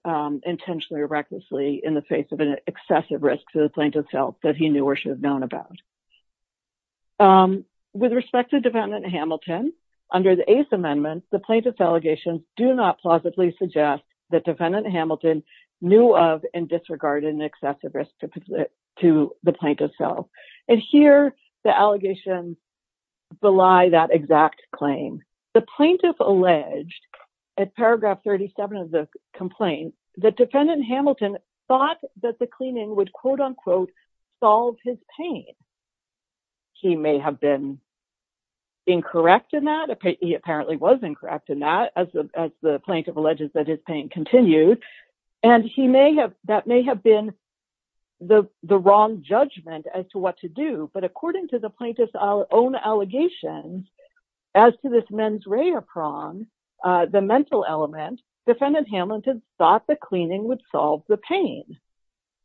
intentionally or recklessly in the face of an excessive risk to the plaintiff's health that he knew or should have known about. With respect to defendant Hamilton, under the eighth amendment, the plaintiff's allegations do not plausibly suggest that defendant Hamilton knew of and disregarded an excessive risk to the plaintiff's health. Here, the allegations belie that exact claim. The plaintiff alleged, at paragraph 37 of the complaint, that defendant Hamilton thought that the cleaning would, quote unquote, solve his pain. He may have been incorrect in that. He apparently was incorrect in that, as the plaintiff alleges that his pain continued, and that may have been the wrong judgment as to what to do. But according to the plaintiff's own allegations, as to this mens rea prong, the mental element, defendant Hamilton thought the cleaning would solve the pain.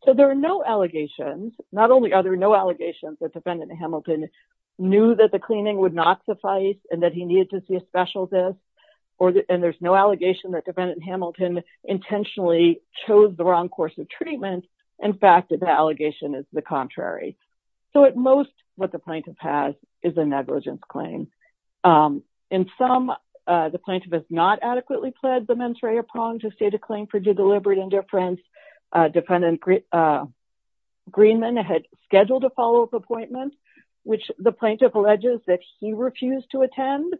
So there are no allegations. Not only are there no allegations that defendant Hamilton knew that the cleaning would not suffice and that he needed to see a specialist, and there's no allegation that defendant Hamilton intentionally chose the wrong course of treatment. In fact, the allegation is the contrary. So at most, what the plaintiff has is a negligence claim. In some, the plaintiff has not adequately pled the mens rea prong to state a claim for due deliberate indifference. Defendant Greenman had scheduled a follow-up appointment, which the plaintiff alleges that he refused to attend.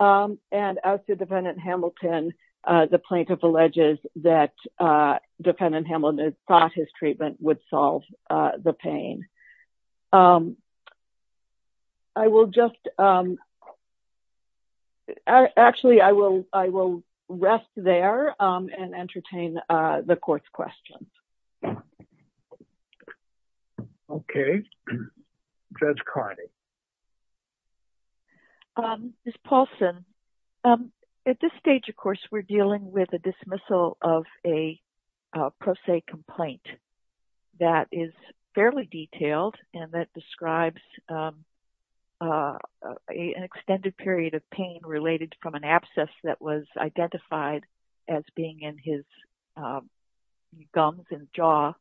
And as to defendant Hamilton, the plaintiff alleges that defendant Hamilton thought his treatment would solve the pain. I will just... Actually, I will rest there and entertain the court's questions. Okay. Judge Cardi. Ms. Paulson, at this stage, of course, we're dealing with a dismissal of a pro se complaint that is fairly detailed and that describes an extended period of pain related from an abscess that was identified as being in his gums and jaw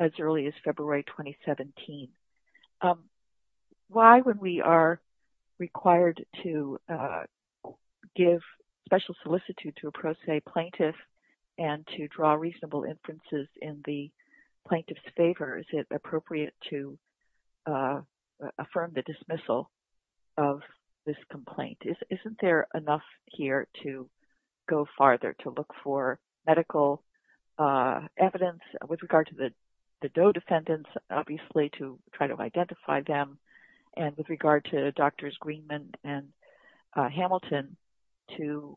as early as February 2017. Why, when we are required to give special solicitude to a pro se plaintiff and to draw reasonable inferences in the plaintiff's favor, is it appropriate to affirm the dismissal of this complaint? Isn't there enough here to go farther, to look for medical evidence? With regard to the Doe defendants, obviously, to try to identify them, and with regard to Doctors Greenman and Hamilton, to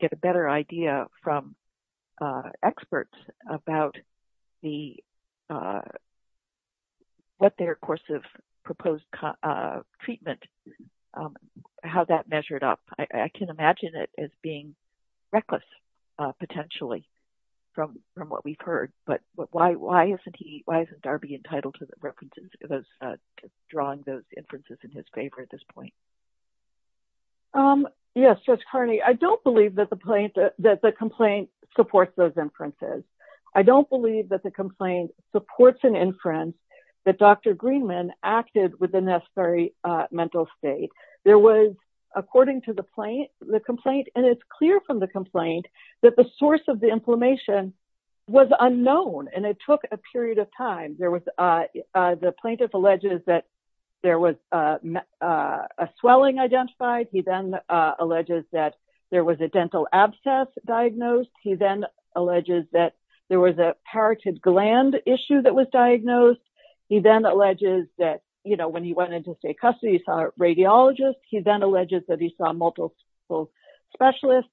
get a better idea from experts about what their course of proposed treatment, how that measured up. I can imagine it as being reckless, potentially, from what we've heard. But why isn't Darby entitled to drawing those inferences in his favor at this point? Yes, Judge Cardi. I don't believe that the complaint supports those inferences. I don't believe that the complaint supports an inference that Dr. Greenman acted with the necessary mental state. There was, according to the complaint, and it's clear from the complaint, that the source of the inflammation was unknown, and it took a period of time. The plaintiff alleges that there was a swelling identified. He then alleges that there was a dental abscess diagnosed. He then alleges that there was a parotid gland issue that was diagnosed. He then alleges that when he went into state custody, he saw a radiologist. He then alleges that he saw multiple specialists.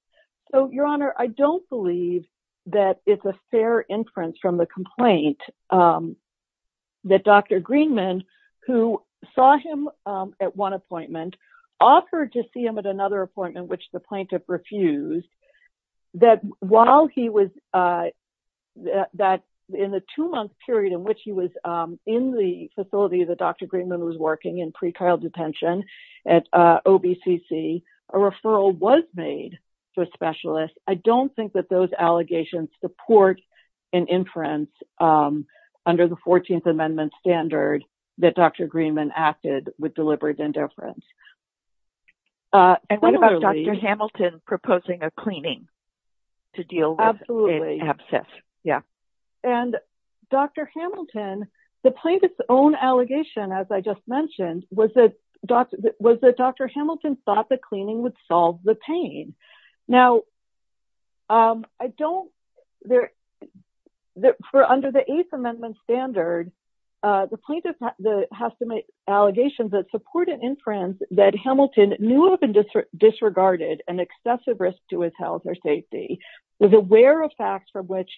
So, Your Honor, I don't believe that it's a fair inference from the complaint that Dr. Greenman, who saw him at one appointment, offered to see him at another appointment, which the plaintiff refused, that in the two-month period in which he was in the facility that Dr. Greenman was working in pre-trial detention at OBCC, a referral was made to a specialist. I don't think that those allegations support an inference under the 14th Amendment standard that Dr. Greenman acted with deliberate indifference. And what about Dr. Hamilton proposing a cleaning to deal with an abscess? Yeah. And Dr. Hamilton, the plaintiff's own allegation, as I just mentioned, was that Dr. Hamilton thought the cleaning would solve the pain. Now, under the Eighth Amendment standard, the plaintiff has to make allegations that support an inference that Hamilton knew of and disregarded an excessive risk to his health or safety, was aware of facts from which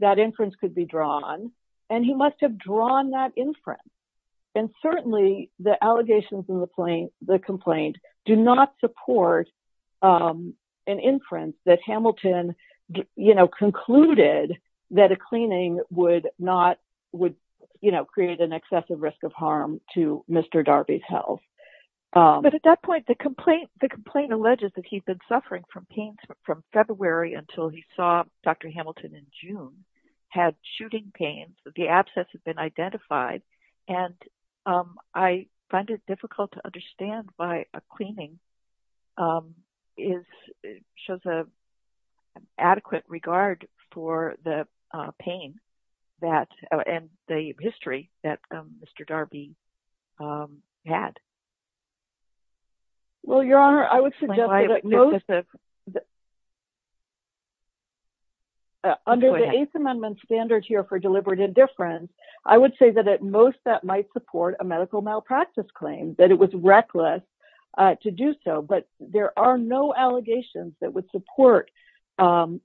that inference could be drawn, and he must have drawn that inference. And certainly, the allegations in the complaint do not support an inference that Hamilton concluded that a cleaning would create an excessive risk of harm to Mr. Darby's health. But at that point, the complaint alleges that he'd been suffering from pain from February until he saw Dr. Hamilton in June, had shooting pain. The abscess had been identified. And I find it difficult to understand why a cleaning shows an adequate regard for the pain and the history that Mr. Darby had. Well, Your Honor, I would suggest that under the Eighth Amendment standard here for deliberate indifference, I would say that at most, that might support a medical malpractice claim, that it was reckless to do so. But there are no allegations that would support, you know,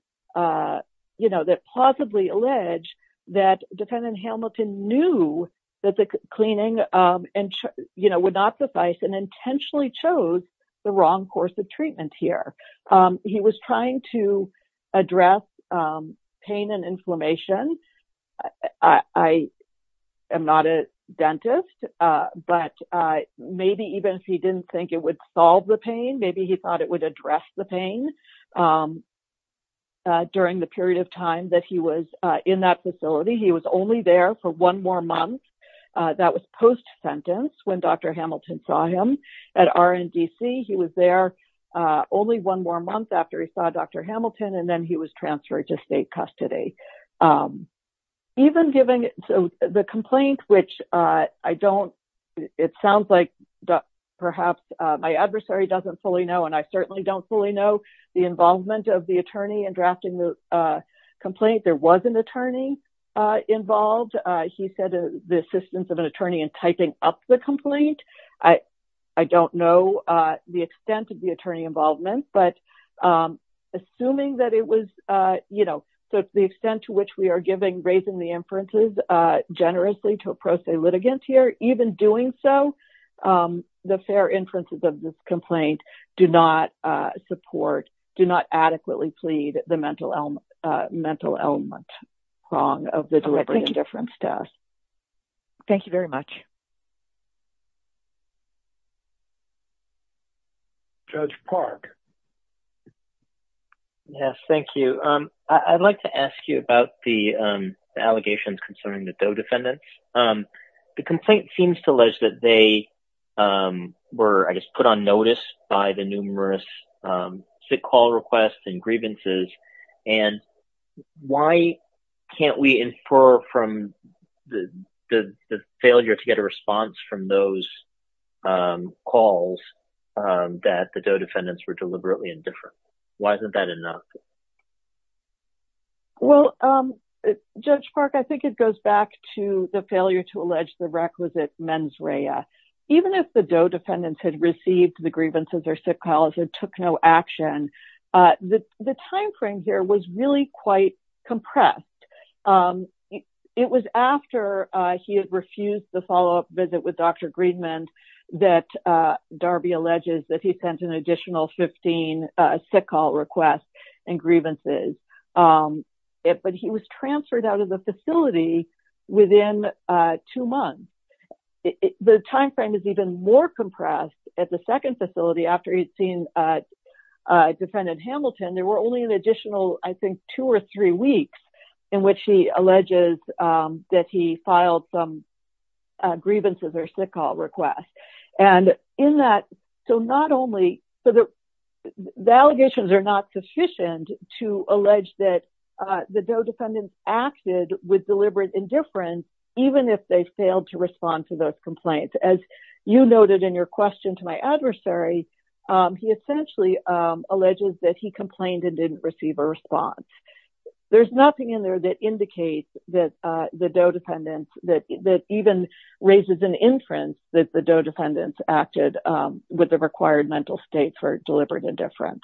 that possibly allege that defendant Hamilton knew that the cleaning would not suffice and intentionally chose the wrong course of treatment here. He was trying to address pain and inflammation. I am not a dentist, but maybe even if he didn't think it would solve the pain, maybe he thought it would address the pain during the period of time that he was in that facility. He was only there for one more month. That was post-sentence when Dr. Hamilton saw him at RNDC. He was there only one more month after he saw Dr. Hamilton, and then he was transferred to state custody. Even given the complaint, which I don't, it sounds like perhaps my adversary doesn't fully know, and I certainly don't fully know the involvement of the attorney in drafting the complaint. There was an attorney involved. He said the assistance of an attorney in typing up the complaint. I don't know the extent of the attorney involvement, but assuming that it was, you know, so the extent to which we are giving, raising the inferences generously to a pro se litigant here, even doing so, the fair inferences of this complaint do not support, do not adequately plead the mental element wrong of the deliberate indifference test. Thank you very much. Judge Park. Yes, thank you. I'd like to ask you about the allegations concerning the DOE defendants. The complaint seems to allege that they were, I guess, put on notice by the numerous sick call requests and grievances, and why can't we infer from the failure to get a response from those calls that the DOE defendants were deliberately indifferent? Why isn't that enough? Well, Judge Park, I think it goes back to the failure to allege the requisite mens rea. Even if the DOE defendants had received the grievances or sick calls and took no action, the timeframe here was really quite compressed. It was after he had refused the follow-up visit with Dr. Greenman that Darby alleges that he sent an additional 15 sick call requests and grievances, but he was transferred out of the facility within two months. The timeframe is even more compressed at the second facility after he'd seen Defendant Hamilton. There were only an additional, I think, two or three weeks in which he alleges that he filed some grievances or sick call requests. The allegations are not sufficient to allege that the DOE defendants acted with deliberate indifference, even if they failed to respond to those complaints. As you noted in your question to my adversary, he essentially alleges that he complained and didn't receive a response. There's nothing in there that indicates that the DOE defendants, that even raises an inference that the DOE defendants acted with the required mental state for deliberate indifference.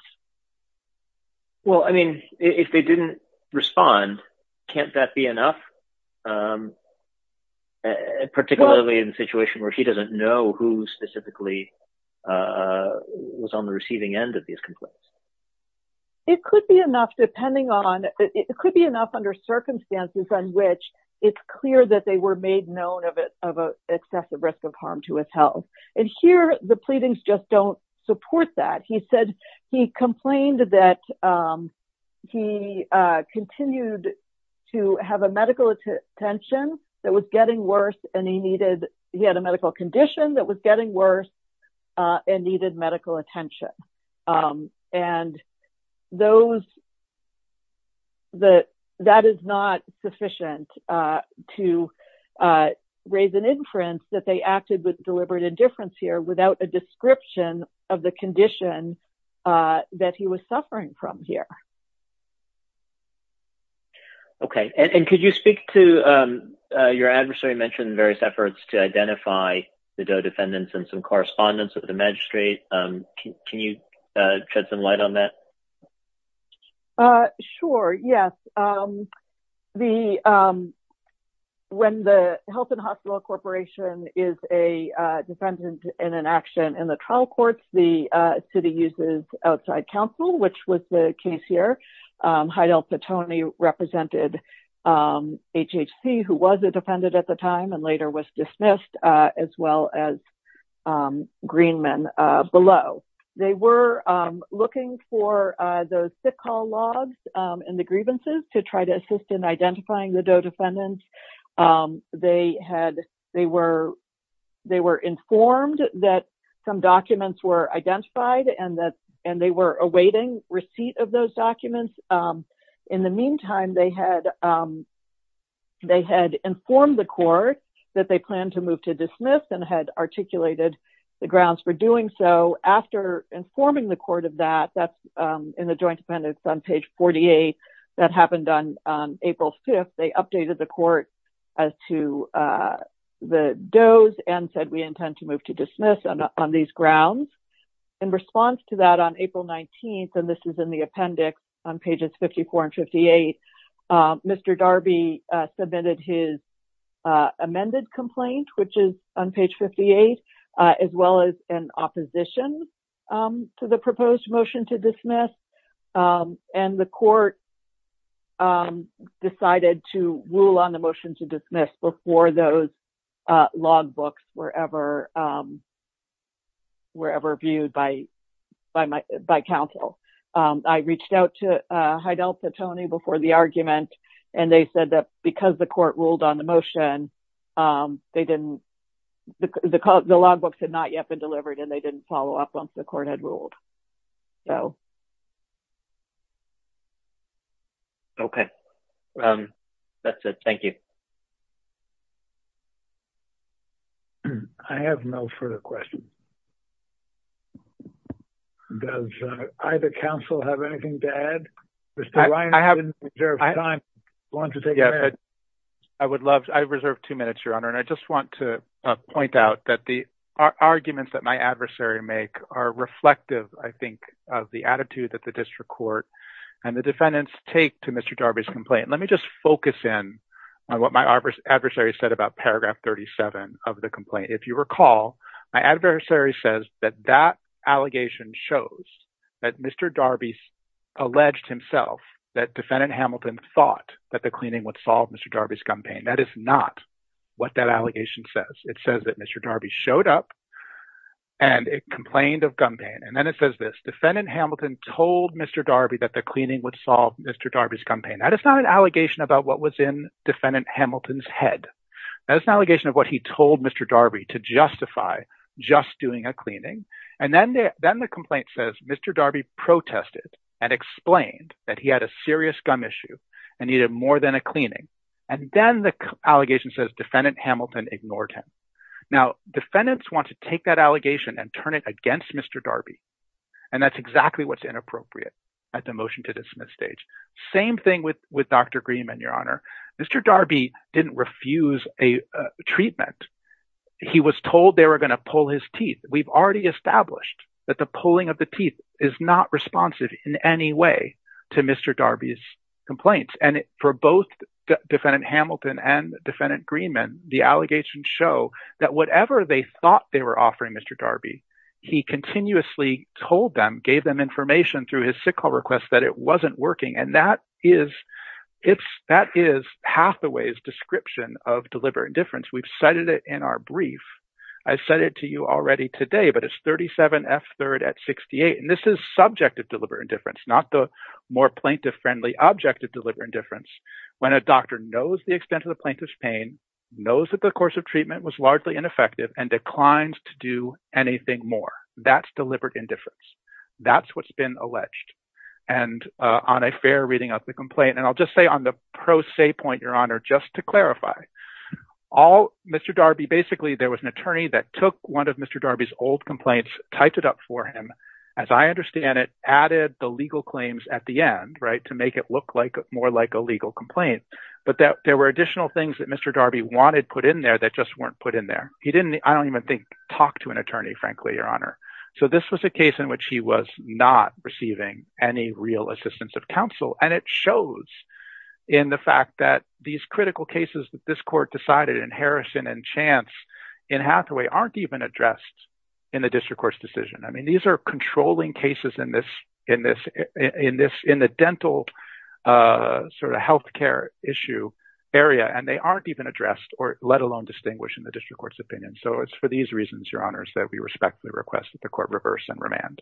Well, I mean, if they didn't respond, can't that be enough? Um, particularly in a situation where he doesn't know who specifically was on the receiving end of these complaints. It could be enough, depending on, it could be enough under circumstances on which it's clear that they were made known of excessive risk of harm to his health. And here, the pleadings just don't support that. He complained that he continued to have a medical attention that was getting worse, and he needed, he had a medical condition that was getting worse and needed medical attention. And that is not sufficient to raise an inference that they acted with deliberate indifference here that he was suffering from here. Okay. And could you speak to your adversary mentioned various efforts to identify the DOE defendants and some correspondence with the magistrate? Can you shed some light on that? Sure. Yes. When the Health and Hospital Corporation is a defendant in an action in the trial courts, the city uses outside counsel, which was the case here. Heidel Petone represented HHC, who was a defendant at the time and later was dismissed, as well as Greenman below. They were looking for those sick hall logs and the grievances to try to assist in identifying the DOE defendants. They were informed that some documents were identified and they were awaiting receipt of those documents. In the meantime, they had informed the court that they planned to move to dismiss and had articulated the grounds for doing so. After informing the court of that, that's in the joint sentence on page 48, that happened on April 5th. They updated the court as to the DOE's and said we intend to move to dismiss on these grounds. In response to that on April 19th, and this is in the appendix on pages 54 and 58, Mr. Darby submitted his amended complaint, which is on page 58, as well as an opposition to the proposed motion to dismiss. And the court decided to rule on the motion to dismiss before those logbooks were ever viewed by counsel. I reached out to Heidel Petone before the argument and they said that because the court ruled on the motion, the logbooks had not yet been delivered and they didn't follow up once the court had ruled. Okay, that's it. Thank you. I have no further questions. Does either counsel have anything to add? Mr. Ryan, you didn't reserve time. I would love to. I reserved two minutes, Your Honor, and I just want to point out that the arguments that my adversary make are reflective, I think, of the attitude that the district court and the defendants take to Mr. Darby's complaint. Let me just focus in on what my adversary said about paragraph 37 of the complaint. If you recall, my adversary says that that allegation shows that Mr. Darby alleged himself that defendant Hamilton thought that the cleaning would solve Mr. Darby's gun pain. That is not what that allegation says. It says that Mr. Darby showed up and complained of gun pain. And then it says this, defendant Hamilton told Mr. Darby that the cleaning would solve Mr. Darby's gun pain. That is not an allegation about what was in defendant Hamilton's head. That is an allegation of what he told Mr. Darby to justify just doing a cleaning. And then the complaint says Mr. Darby protested and explained that he had a serious gun issue and needed more than a cleaning. And then the allegation says defendant Hamilton ignored him. Now, defendants want to take that allegation and turn it against Mr. Darby. And that's exactly what's inappropriate at the motion to dismiss stage. Same thing with Dr. Greenman, Your Honor. Mr. Darby didn't refuse a treatment. He was told they were going to pull his teeth. We've already established that the pulling of the teeth is not responsive in any way to Mr. Darby's complaints. And for both defendant Hamilton and defendant Greenman, the allegations show that whatever they thought they were offering Mr. Darby, he continuously told them, gave them information through his sickle request that it wasn't working. And that is it's that is pathways description of deliberate indifference. We've cited it in our brief. I said it to you already today, but it's 37 F third at 68. And this is subjective deliberate indifference, not the more plaintiff friendly objective deliberate indifference. When a doctor knows the extent of the plaintiff's pain, knows that the course of treatment was largely ineffective and declined to do anything more. That's deliberate indifference. That's what's been alleged. And on a fair reading of the complaint, and I'll just say on the pro se point, Your Honor, just to clarify all Mr. Darby, basically, there was an attorney that took one of Mr. Darby's old complaints, typed it up for him. As I understand it, added the legal claims at the end, right, to make it look like more like a legal complaint. But there were additional things that Mr. Darby wanted put in there that just weren't put in there. He didn't I don't even think talk to an attorney, frankly, Your Honor. So this was a case in which he was not receiving any real assistance of counsel. And it shows in the fact that these critical cases that this court decided in Harrison and chance in Hathaway aren't even addressed in the district court's decision. I mean, these are controlling cases in this in this in this in the dental sort of health care issue area, and they aren't even addressed or let alone distinguish in the district court's opinion. So it's for these reasons, Your Honor, that we respectfully request that the court reverse and remand.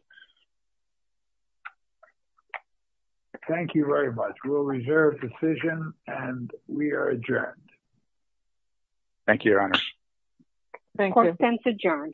Thank you very much. We'll reserve decision and we are adjourned. Thank you, Your Honor. Thank you.